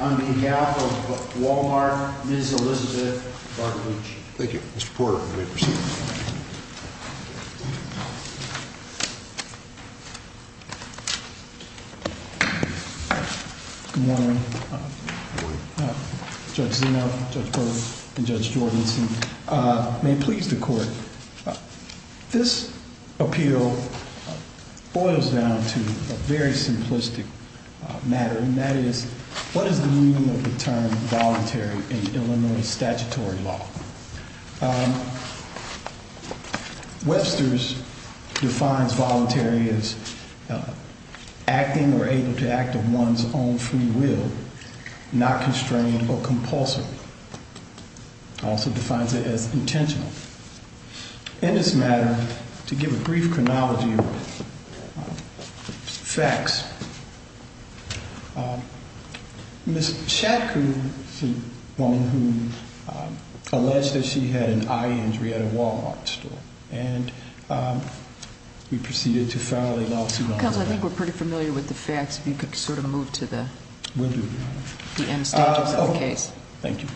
On behalf of Wal-Mart, Ms. Elizabeth Bartolucci. Thank you, Mr. Porter. We may proceed. Good morning. Good morning. Judge Zeno, Judge Berg, and Judge Jordanson, may it please the Court, this appeal boils down to a very simplistic matter, and that is, what is the meaning of the term voluntary in Illinois statutory law? Webster's defines voluntary as acting or able to act of one's own free will, not constrained or compulsive. Also defines it as intentional. In this matter, to give a brief chronology of facts, Ms. Shatku is a woman who alleged that she had an eye injury at a Wal-Mart store, and we proceeded to file a lawsuit on that. Counsel, I think we're pretty familiar with the facts. If you could sort of move to the end statements of the case. Thank you.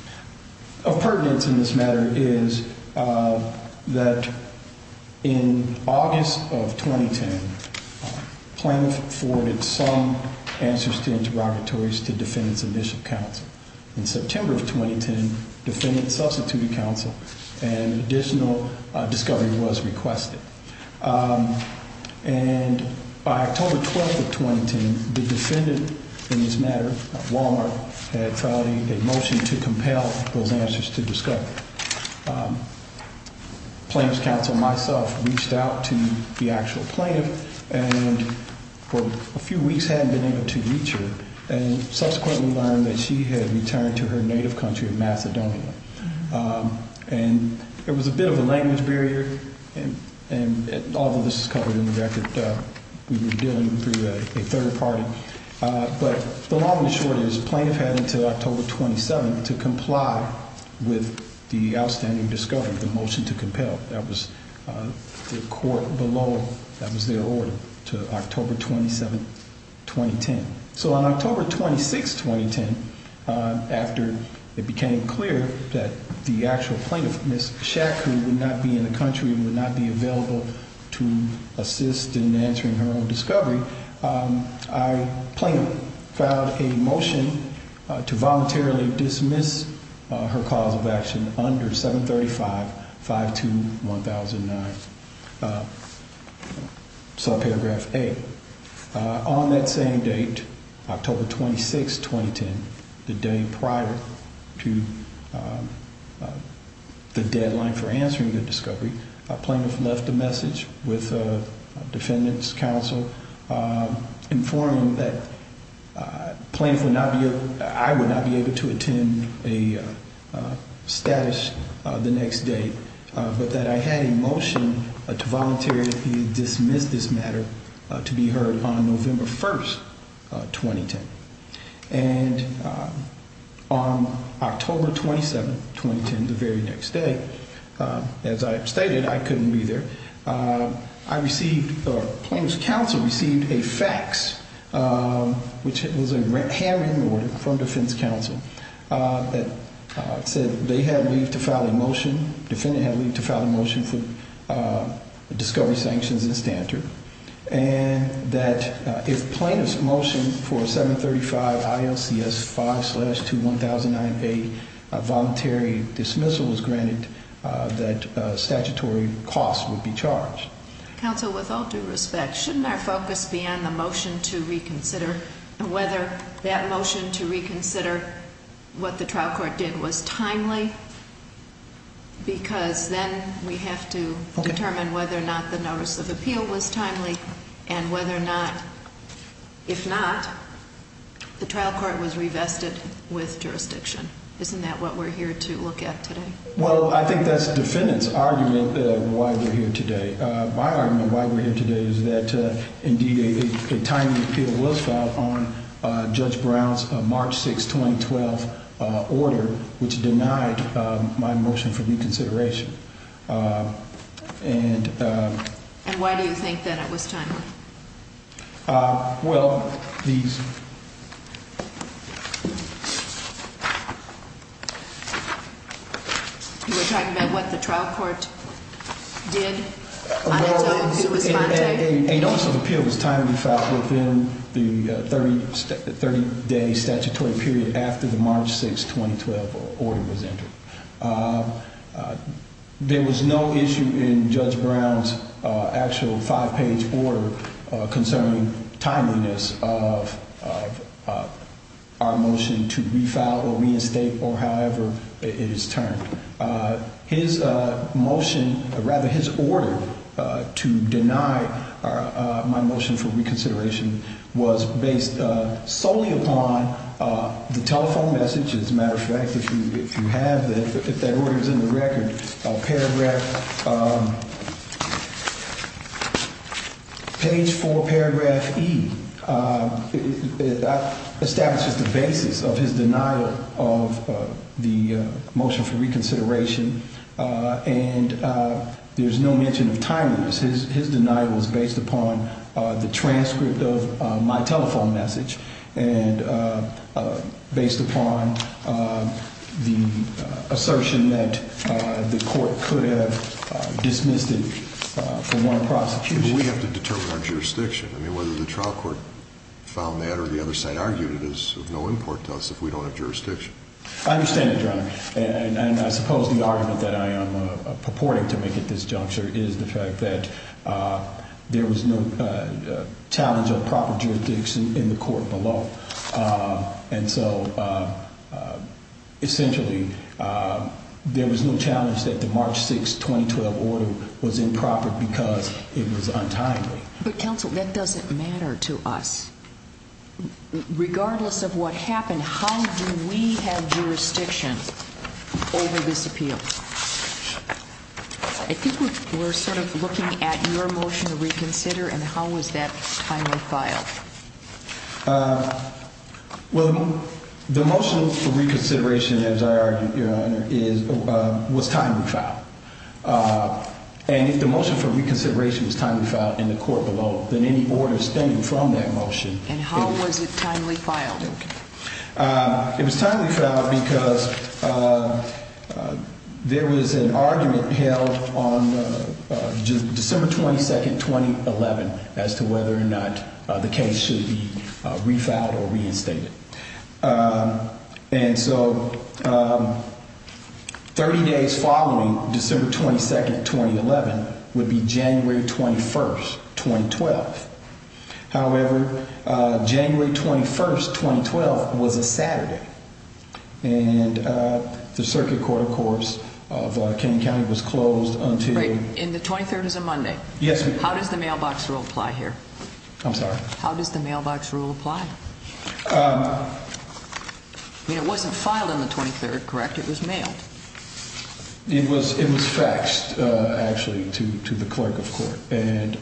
Of pertinence in this matter is that in August of 2010, Plano forwarded some answers to interrogatories to defendants and Bishop counsel. In September of 2010, defendants substituted counsel, and additional discovery was requested. And by October 12th of 2010, the defendant in this matter, Wal-Mart, had filed a motion to compel those answers to discovery. Plano's counsel, myself, reached out to the actual plaintiff, and for a few weeks hadn't been able to reach her, and subsequently learned that she had returned to her native country of Macedonia. And there was a bit of a language barrier, and all of this is covered in the record. We were dealing through a third party. But the long and the short is, the plaintiff had until October 27th to comply with the outstanding discovery, the motion to compel. That was the court below, that was their order, to October 27th, 2010. So on October 26th, 2010, after it became clear that the actual plaintiff, Ms. Shack, who would not be in the country, would not be available to assist in answering her own discovery, Plano filed a motion to voluntarily dismiss her cause of action under 735-521009. So paragraph 8. On that same date, October 26th, 2010, the day prior to the deadline for answering the discovery, a plaintiff left a message with a defendant's counsel informing that plaintiff would not be able, I would not be able to attend a status the next day, but that I had a motion to voluntarily dismiss this matter to be heard on November 1st, 2010. And on October 27th, 2010, the very next day, as I stated, I couldn't be there, I received, the plaintiff's counsel received a fax, which was a handwritten order from defense counsel that said they had leave to file a motion, defendant had leave to file a motion for discovery sanctions and standard, and that if plaintiff's motion for 735-ILCS-5-21009A voluntary dismissal was granted, that statutory cost would be charged. Counsel, with all due respect, shouldn't our focus be on the motion to reconsider, and whether that motion to reconsider what the trial court did was timely, because then we have to determine whether or not the notice of appeal was timely, and whether or not, if not, the trial court was revested with jurisdiction. Isn't that what we're here to look at today? Well, I think that's the defendant's argument why we're here today. My argument why we're here today is that, indeed, a timely appeal was filed on Judge Brown's March 6, 2012 order, which denied my motion for reconsideration. And why do you think that it was timely? Well, these... You were talking about what the trial court did on its own to respond to that? A notice of appeal was timely filed within the 30-day statutory period after the March 6, 2012 order was entered. There was no issue in Judge Brown's actual five-page order concerning timeliness of our motion to refile or reinstate, or however it is termed. His motion, or rather his order, to deny my motion for reconsideration was based solely upon the telephone message. As a matter of fact, if you have that, if that order is in the record, paragraph... Page 4, paragraph E establishes the basis of his denial of the motion for reconsideration, and there's no mention of timeliness. His denial was based upon the transcript of my telephone message, and based upon the assertion that the court could have dismissed it for want of prosecution. But we have to determine our jurisdiction. I mean, whether the trial court found that or the other side argued it is of no import to us if we don't have jurisdiction. I understand that, Your Honor. And I suppose the argument that I am purporting to make at this juncture is the fact that there was no challenge of proper jurisdiction in the court below. And so, essentially, there was no challenge that the March 6, 2012 order was improper because it was untimely. But, counsel, that doesn't matter to us. Regardless of what happened, how do we have jurisdiction over this appeal? I think we're sort of looking at your motion to reconsider, and how was that timely filed? Well, the motion for reconsideration, as I argued, Your Honor, was timely filed. And if the motion for reconsideration was timely filed in the court below, then any order stemming from that motion And how was it timely filed? It was timely filed because there was an argument held on December 22, 2011, as to whether or not the case should be refiled or reinstated. And so 30 days following December 22, 2011 would be January 21, 2012. However, January 21, 2012 was a Saturday. And the circuit court, of course, of King County was closed until Right. And the 23rd is a Monday. Yes, ma'am. How does the mailbox rule apply here? I'm sorry? How does the mailbox rule apply? I mean, it wasn't filed on the 23rd, correct? It was mailed? It was faxed, actually, to the clerk of court. And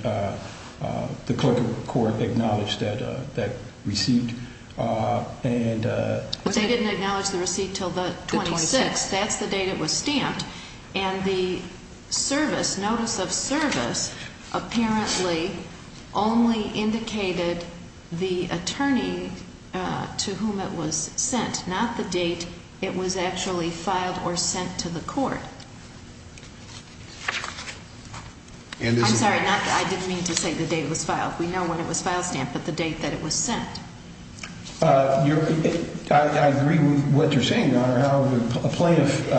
the clerk of court acknowledged that receipt. But they didn't acknowledge the receipt until the 26th. The 26th. That's the date it was stamped. And the service, notice of service, apparently only indicated the attorney to whom it was sent, not the date it was actually filed or sent to the court. I'm sorry, I didn't mean to say the date it was filed. We know when it was file stamped, but the date that it was sent. I agree with what you're saying, Your Honor. However, a plaintiff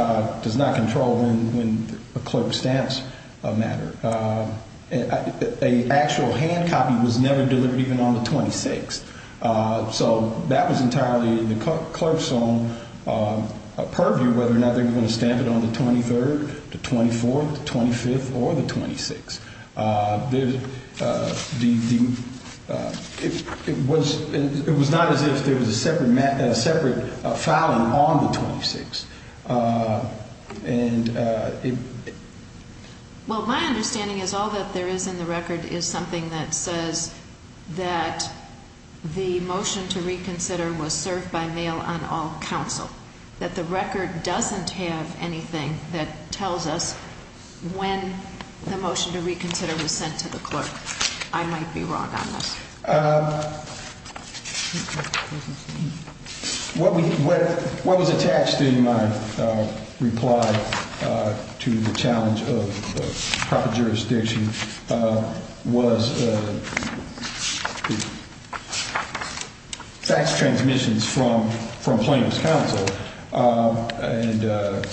does not control when a clerk stamps a matter. An actual hand copy was never delivered even on the 26th. So that was entirely the clerk's own purview, whether or not they were going to stamp it on the 23rd, the 24th, the 25th, or the 26th. It was not as if there was a separate filing on the 26th. Well, my understanding is all that there is in the record is something that says that the motion to reconsider was served by mail on all counsel. That the record doesn't have anything that tells us when the motion to reconsider was sent to the clerk. I might be wrong on this. What was attached in my reply to the challenge of proper jurisdiction was fax transmissions from plaintiff's counsel and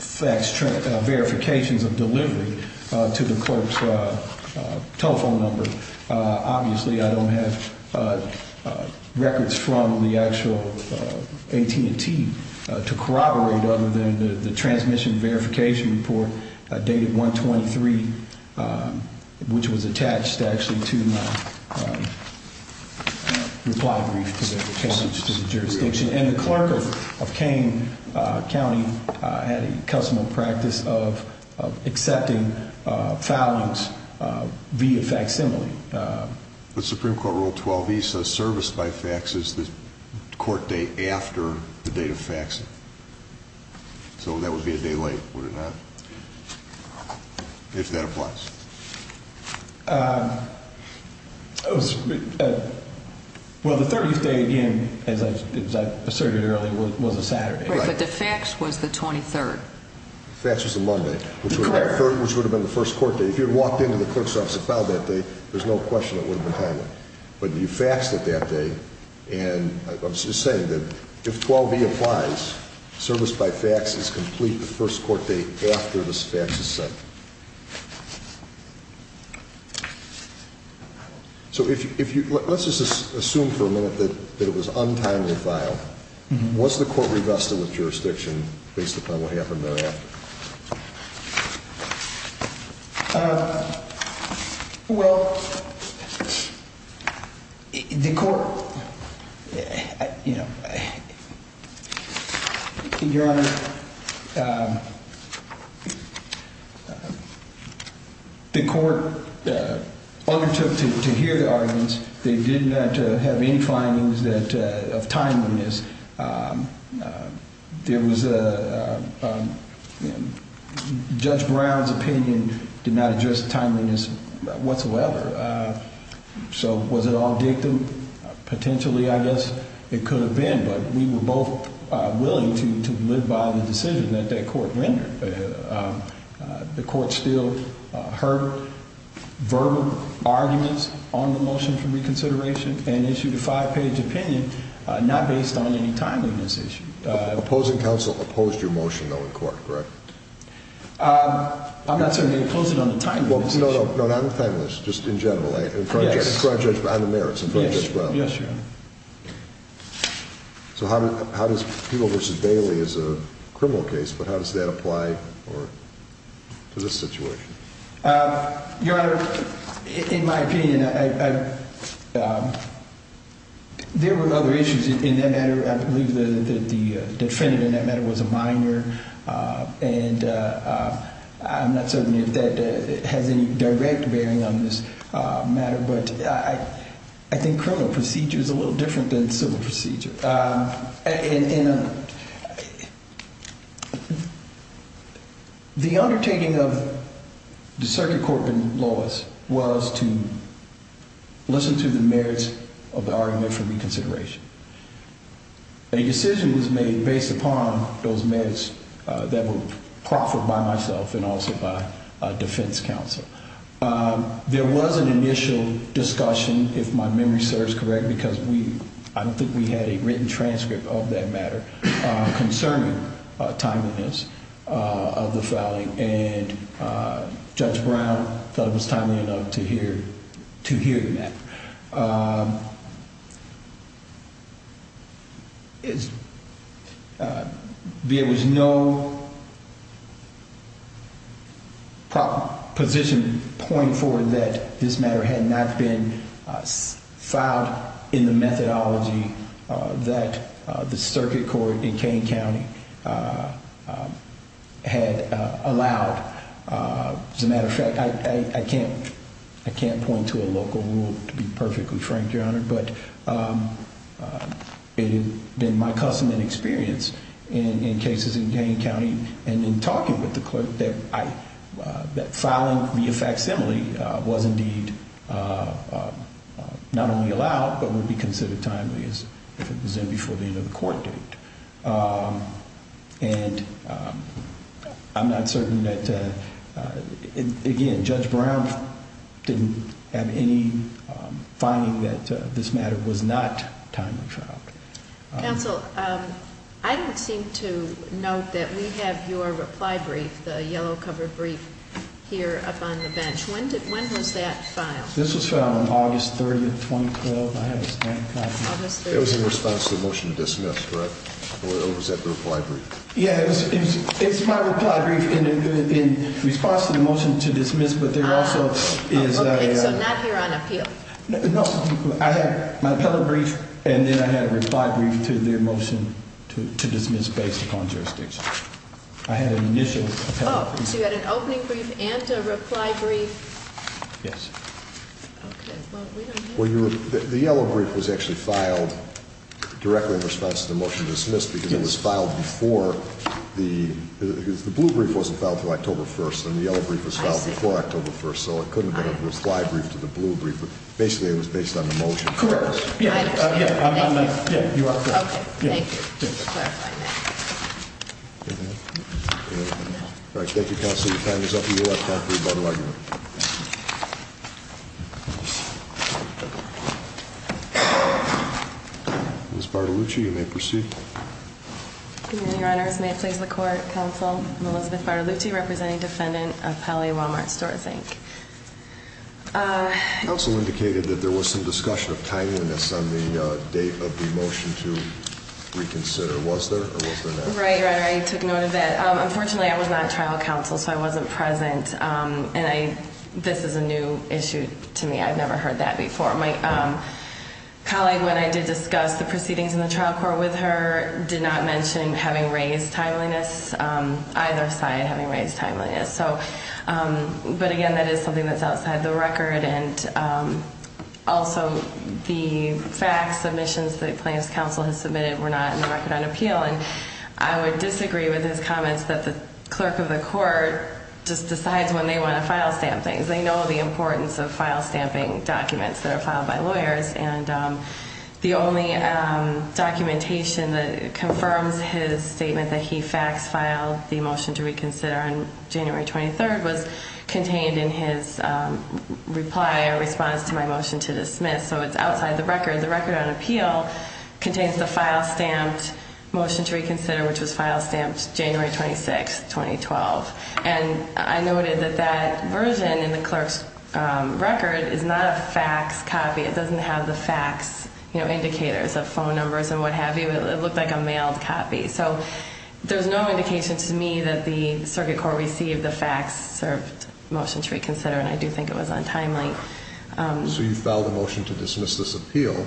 fax verifications of delivery to the clerk's telephone number. Obviously, I don't have records from the actual AT&T to corroborate other than the transmission verification report dated 123, which was attached actually to my reply brief to the jurisdiction. And the clerk of Kane County had a custom of practice of accepting filings via facsimile. The Supreme Court Rule 12E says service by fax is the court date after the date of faxing. So that would be a day late, would it not, if that applies? Well, the 30th day, again, as I asserted earlier, was a Saturday. Right, but the fax was the 23rd. The fax was the Monday, which would have been the first court date. If you had walked into the clerk's office and filed that day, there's no question it would have been timely. But you faxed it that day, and I'm just saying that if 12E applies, service by fax is complete the first court date after this fax is sent. So let's just assume for a minute that it was untimely filed. Was the court revested with jurisdiction based upon what happened thereafter? Well, the court undertook to hear the arguments. They did not have any findings of timeliness. There was a, you know, a lot of confusion. Judge Brown's opinion did not address timeliness whatsoever. So was it all dictum? Potentially, I guess it could have been, but we were both willing to live by the decision that that court rendered. The court still heard verbal arguments on the motion for reconsideration and issued a five-page opinion not based on any timeliness issue. Opposing counsel opposed your motion, though, in court, correct? I'm not saying they opposed it on the timeliness issue. No, not on the timeliness, just in general, on the merits in front of Judge Brown. Yes, Your Honor. So how does People v. Bailey as a criminal case, but how does that apply to this situation? Your Honor, in my opinion, there were other issues in that matter. I believe the defendant in that matter was a minor, and I'm not certain if that has any direct bearing on this matter. But I think criminal procedure is a little different than civil procedure. The undertaking of the circuit court in Lois was to listen to the merits of the argument for reconsideration. A decision was made based upon those merits that were proffered by myself and also by defense counsel. There was an initial discussion, if my memory serves correctly, because I don't think we had a written transcript of that matter, concerning timeliness of the fouling, and Judge Brown thought it was timely enough to hear that. There was no position point forward that this matter had not been filed in the methodology that the circuit court in Kane County had allowed. As a matter of fact, I can't point to a local rule to be perfectly frank, Your Honor, but it had been my custom and experience in cases in Kane County and in talking with the clerk that filing via facsimile was indeed not only allowed, but would be considered timely as if it was in before the end of the court date. And I'm not certain that, again, Judge Brown didn't have any finding that this matter was not timely filed. Counsel, I don't seem to note that we have your reply brief, the yellow cover brief, here up on the bench. When was that filed? This was filed on August 30, 2012. It was in response to the motion to dismiss, correct? Or was that the reply brief? Yeah, it was my reply brief in response to the motion to dismiss, but there also is a... Okay, so not here on appeal. No, I had my appellate brief, and then I had a reply brief to the motion to dismiss based upon jurisdiction. I had an initial appellate brief. Oh, so you had an opening brief and a reply brief? Yes. Okay, well, we don't know. Well, the yellow brief was actually filed directly in response to the motion to dismiss because it was filed before the... The blue brief wasn't filed until October 1st, and the yellow brief was filed before October 1st, so it couldn't have been a reply brief to the blue brief. Basically, it was based on the motion to dismiss. Correct. I understand. Yeah, you are correct. Okay, thank you. All right, thank you, Counsel. Your time is up. You will have time for your final argument. Ms. Bartolucci, you may proceed. Good evening, Your Honors. May it please the Court, Counsel. I'm Elizabeth Bartolucci, representing defendant of Pelley Walmart Stores, Inc. Counsel indicated that there was some discussion of timeliness on the date of the motion to reconsider. Was there, or was there not? Right, Your Honor. I took note of that. Unfortunately, I was not on trial, Counsel, so I wasn't present, and this is a new issue to me. I've never heard that before. My colleague, when I did discuss the proceedings in the trial court with her, did not mention having raised timeliness, either side having raised timeliness. But, again, that is something that's outside the record, and also the facts, submissions that Plaintiff's Counsel has submitted were not in the record on appeal, and I would disagree with his comments that the clerk of the court just decides when they want to file stamp things. They know the importance of file stamping documents that are filed by lawyers, and the only documentation that confirms his statement that he fax-filed the motion to reconsider on January 23rd was contained in his reply or response to my motion to dismiss. So it's outside the record. The record on appeal contains the file-stamped motion to reconsider, which was file-stamped January 26, 2012. And I noted that that version in the clerk's record is not a fax copy. It doesn't have the fax indicators of phone numbers and what have you. It looked like a mailed copy. So there's no indication to me that the circuit court received the fax-served motion to reconsider, and I do think it was on timeliness. So you filed a motion to dismiss this appeal,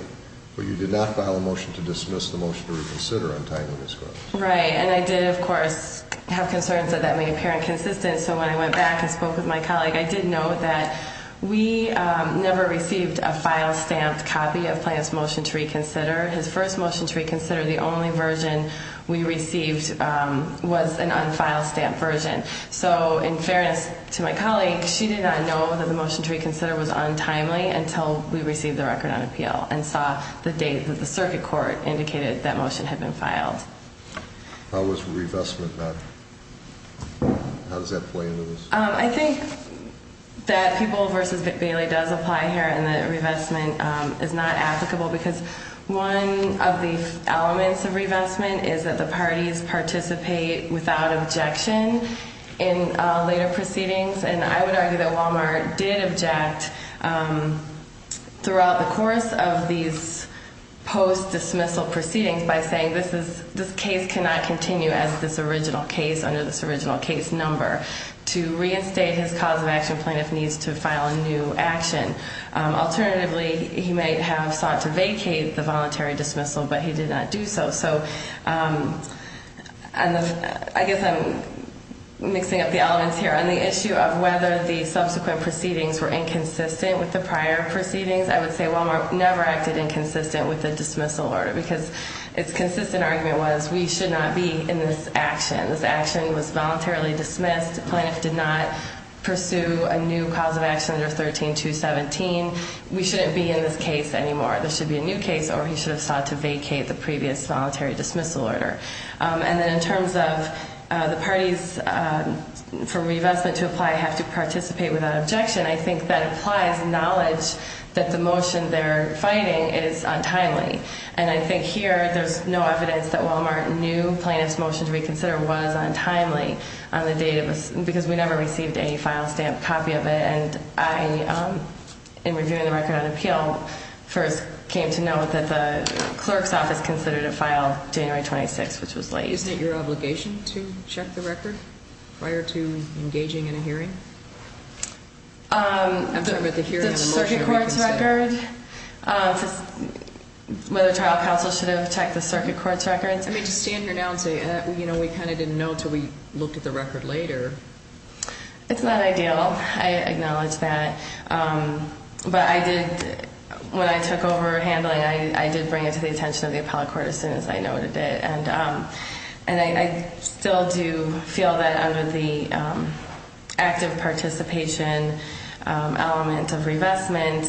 but you did not file a motion to dismiss the motion to reconsider on timeliness grounds. Right, and I did, of course, have concerns that that may appear inconsistent. So when I went back and spoke with my colleague, I did note that we never received a file-stamped copy of Plante's motion to reconsider. His first motion to reconsider, the only version we received, was an unfile-stamped version. So in fairness to my colleague, she did not know that the motion to reconsider was untimely until we received the record on appeal and saw the date that the circuit court indicated that motion had been filed. How was revestment met? How does that play into this? I think that People v. Bailey does apply here and that revestment is not applicable because one of the elements of revestment is that the parties participate without objection in later proceedings, and I would argue that Walmart did object throughout the course of these post-dismissal proceedings by saying this case cannot continue as this original case under this original case number to reinstate his cause-of-action plaintiff needs to file a new action. Alternatively, he may have sought to vacate the voluntary dismissal, but he did not do so. So I guess I'm mixing up the elements here. On the issue of whether the subsequent proceedings were inconsistent with the prior proceedings, I would say Walmart never acted inconsistent with the dismissal order because its consistent argument was we should not be in this action. This action was voluntarily dismissed. The plaintiff did not pursue a new cause-of-action under 13217. We shouldn't be in this case anymore. This should be a new case or he should have sought to vacate the previous voluntary dismissal order. And then in terms of the parties for revestment to apply have to participate without objection, I think that applies knowledge that the motion they're fighting is untimely, and I think here there's no evidence that Walmart knew plaintiff's motion to reconsider was untimely because we never received any file stamp copy of it, and I, in reviewing the record on appeal, first came to know that the clerk's office considered a file January 26, which was late. Isn't it your obligation to check the record prior to engaging in a hearing? I'm talking about the hearing and the motion that we consented. The circuit court's record, whether trial counsel should have checked the circuit court's record. I mean, to stand here now and say, you know, we kind of didn't know until we looked at the record later. It's not ideal. I acknowledge that. But I did, when I took over handling, I did bring it to the attention of the appellate court as soon as I noted it. And I still do feel that under the active participation element of revestment,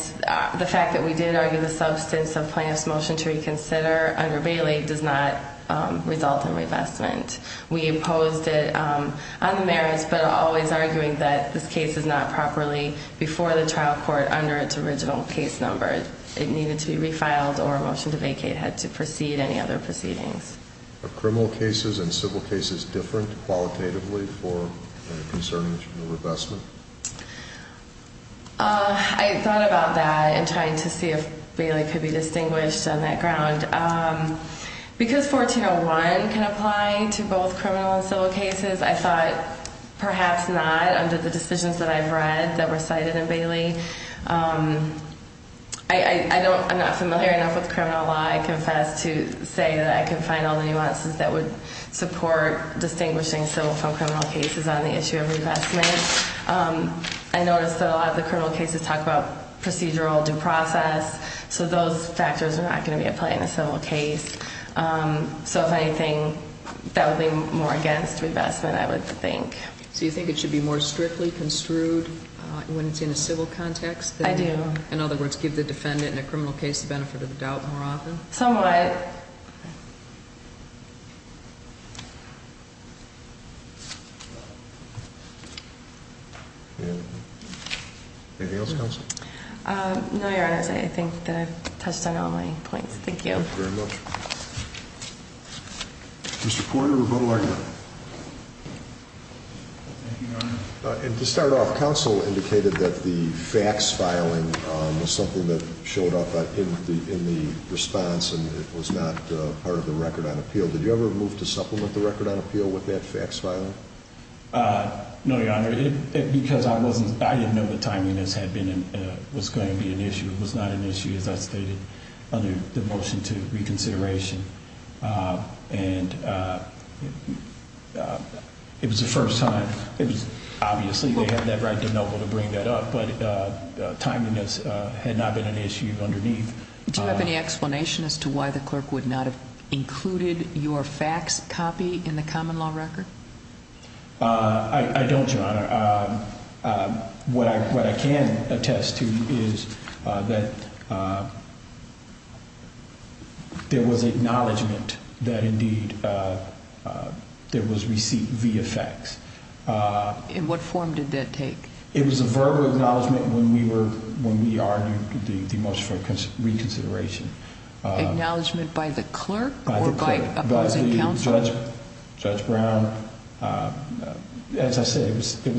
the fact that we did argue the substance of plaintiff's motion to reconsider under Bailey does not result in revestment. We opposed it on the merits, but always arguing that this case is not properly before the trial court under its original case number. It needed to be refiled, or a motion to vacate had to precede any other proceedings. Are criminal cases and civil cases different qualitatively for concerning the revestment? I thought about that in trying to see if Bailey could be distinguished on that ground. Because 1401 can apply to both criminal and civil cases, I thought perhaps not under the decisions that I've read that were cited in Bailey. I'm not familiar enough with criminal law, I confess, to say that I can find all the nuances that would support distinguishing civil from criminal cases on the issue of revestment. I noticed that a lot of the criminal cases talk about procedural due process, so those factors are not going to be applied in a civil case. So if anything, that would be more against revestment, I would think. So you think it should be more strictly construed when it's in a civil context? I do. In other words, give the defendant in a criminal case the benefit of the doubt more often? Somewhat. Anything else, counsel? No, Your Honor. I think that I've touched on all my points. Thank you. Thank you very much. Mr. Porter, rebuttal argument. Thank you, Your Honor. To start off, counsel indicated that the fax filing was something that showed up in the response and it was not part of the record on appeal. Did you ever move to supplement the record on appeal with that fax filing? No, Your Honor. Because I didn't know that timeliness was going to be an issue. It was not an issue, as I stated, under the motion to reconsideration. It was the first time. Obviously, they had that right to be able to bring that up, but timeliness had not been an issue underneath. Do you have any explanation as to why the clerk would not have included your fax copy in the common law record? I don't, Your Honor. What I can attest to is that there was acknowledgment that, indeed, there was receipt via fax. In what form did that take? It was a verbal acknowledgment when we argued the motion for reconsideration. Acknowledgment by the clerk or by opposing counsel? Opposing counsel. Judge Brown, as I said, it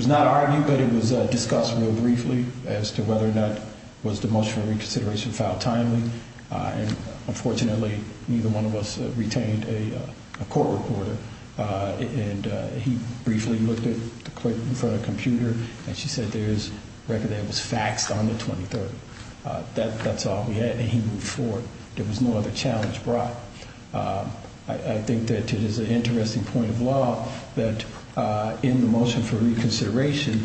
was not argued, but it was discussed real briefly as to whether or not it was the motion for reconsideration filed timely. Unfortunately, neither one of us retained a court reporter. He briefly looked at the clerk in front of the computer and she said there is record that was faxed on the 23rd. That's all we had, and he moved forward. There was no other challenge brought. I think that it is an interesting point of law that in the motion for reconsideration,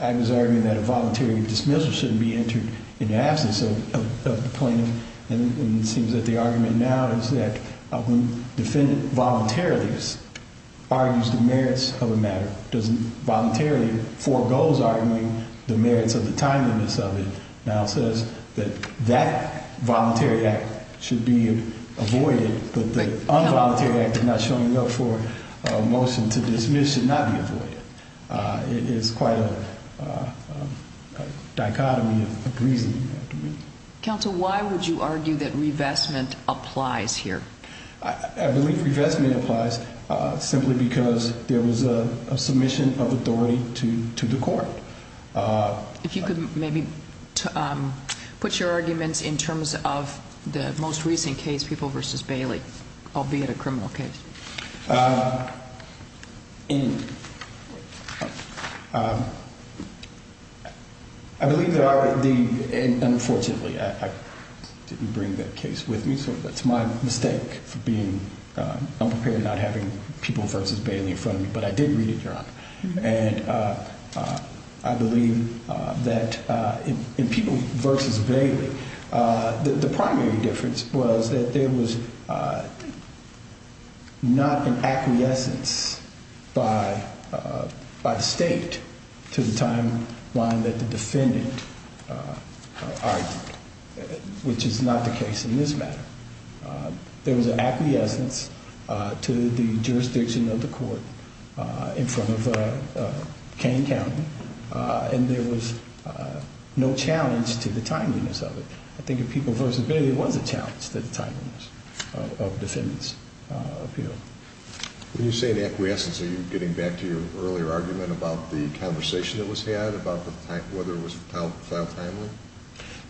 I was arguing that a voluntary dismissal shouldn't be entered in the absence of the plaintiff, and it seems that the argument now is that a defendant voluntarily argues the merits of a matter, doesn't voluntarily foregoes arguing the merits of the timeliness of it. Now it says that that voluntary act should be avoided, but the involuntary act of not showing up for a motion to dismiss should not be avoided. It is quite a dichotomy of reasoning. Counsel, why would you argue that revestment applies here? I believe revestment applies simply because there was a submission of authority to the court. If you could maybe put your arguments in terms of the most recent case, People v. Bailey, albeit a criminal case. I believe there are the, and unfortunately I didn't bring that case with me, so that's my mistake for being unprepared and not having People v. Bailey in front of me, but I did read it, Your Honor. And I believe that in People v. Bailey, the primary difference was that there was not an acquiescence by the state to the timeline that the defendant argued, which is not the case in this matter. There was an acquiescence to the jurisdiction of the court in front of Kane County, and there was no challenge to the timeliness of it. I think in People v. Bailey, there was a challenge to the timeliness of the defendant's appeal. When you say an acquiescence, are you getting back to your earlier argument about the conversation that was had about whether it was filed timely?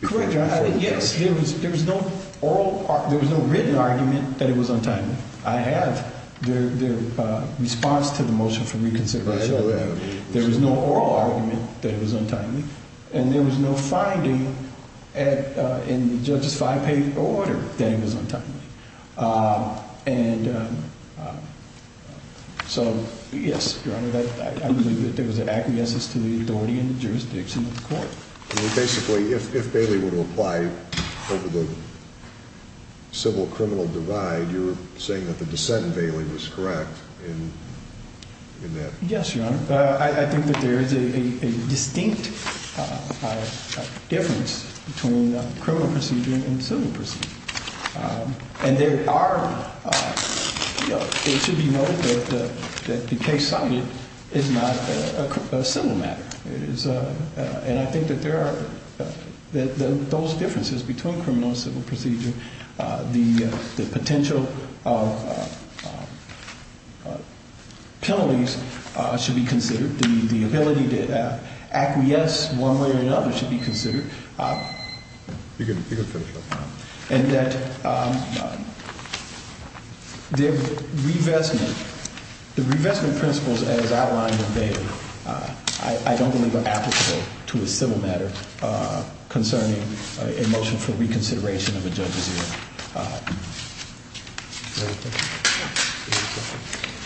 Correct, Your Honor. Yes, there was no written argument that it was untimely. I have the response to the motion for reconsideration. There was no oral argument that it was untimely, and there was no finding in the judge's five-page order that it was untimely. And so, yes, Your Honor, I believe that there was an acquiescence to the authority and jurisdiction of the court. Basically, if Bailey were to apply over the civil-criminal divide, you're saying that the dissent in Bailey was correct in that? Yes, Your Honor. I think that there is a distinct difference between criminal procedure and civil procedure. And there are – it should be noted that the case cited is not a civil matter. And I think that there are – that those differences between criminal and civil procedure, the potential penalties should be considered, the ability to acquiesce one way or another should be considered, and that the revestment – the revestment principles, as outlined in Bailey, I don't believe are applicable to a civil matter concerning a motion for reconsideration of a judge's hearing.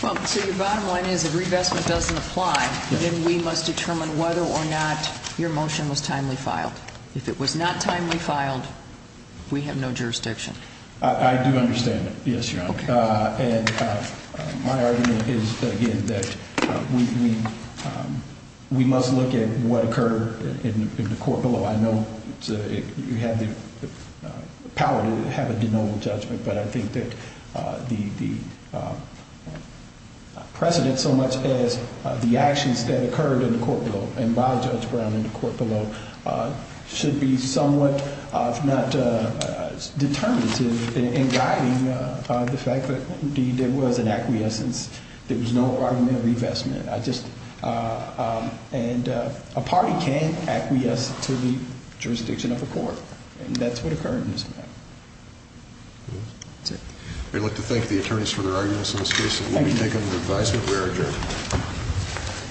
Well, so your bottom line is if revestment doesn't apply, then we must determine whether or not your motion was timely filed. If it was not timely filed, we have no jurisdiction. I do understand that, yes, Your Honor. And my argument is, again, that we must look at what occurred in the court below. I know you have the power to have a denominal judgment, but I think that the precedent so much as the actions that occurred in the court below and by Judge Brown in the court below should be somewhat if not determinative in guiding the fact that, indeed, there was an acquiescence. There was no argument of revestment. I just – and a party can acquiesce to the jurisdiction of a court, and that's what occurred in this matter. That's it. We'd like to thank the attorneys for their arguments on this case. Thank you. And we take it as an advisement. We are adjourned.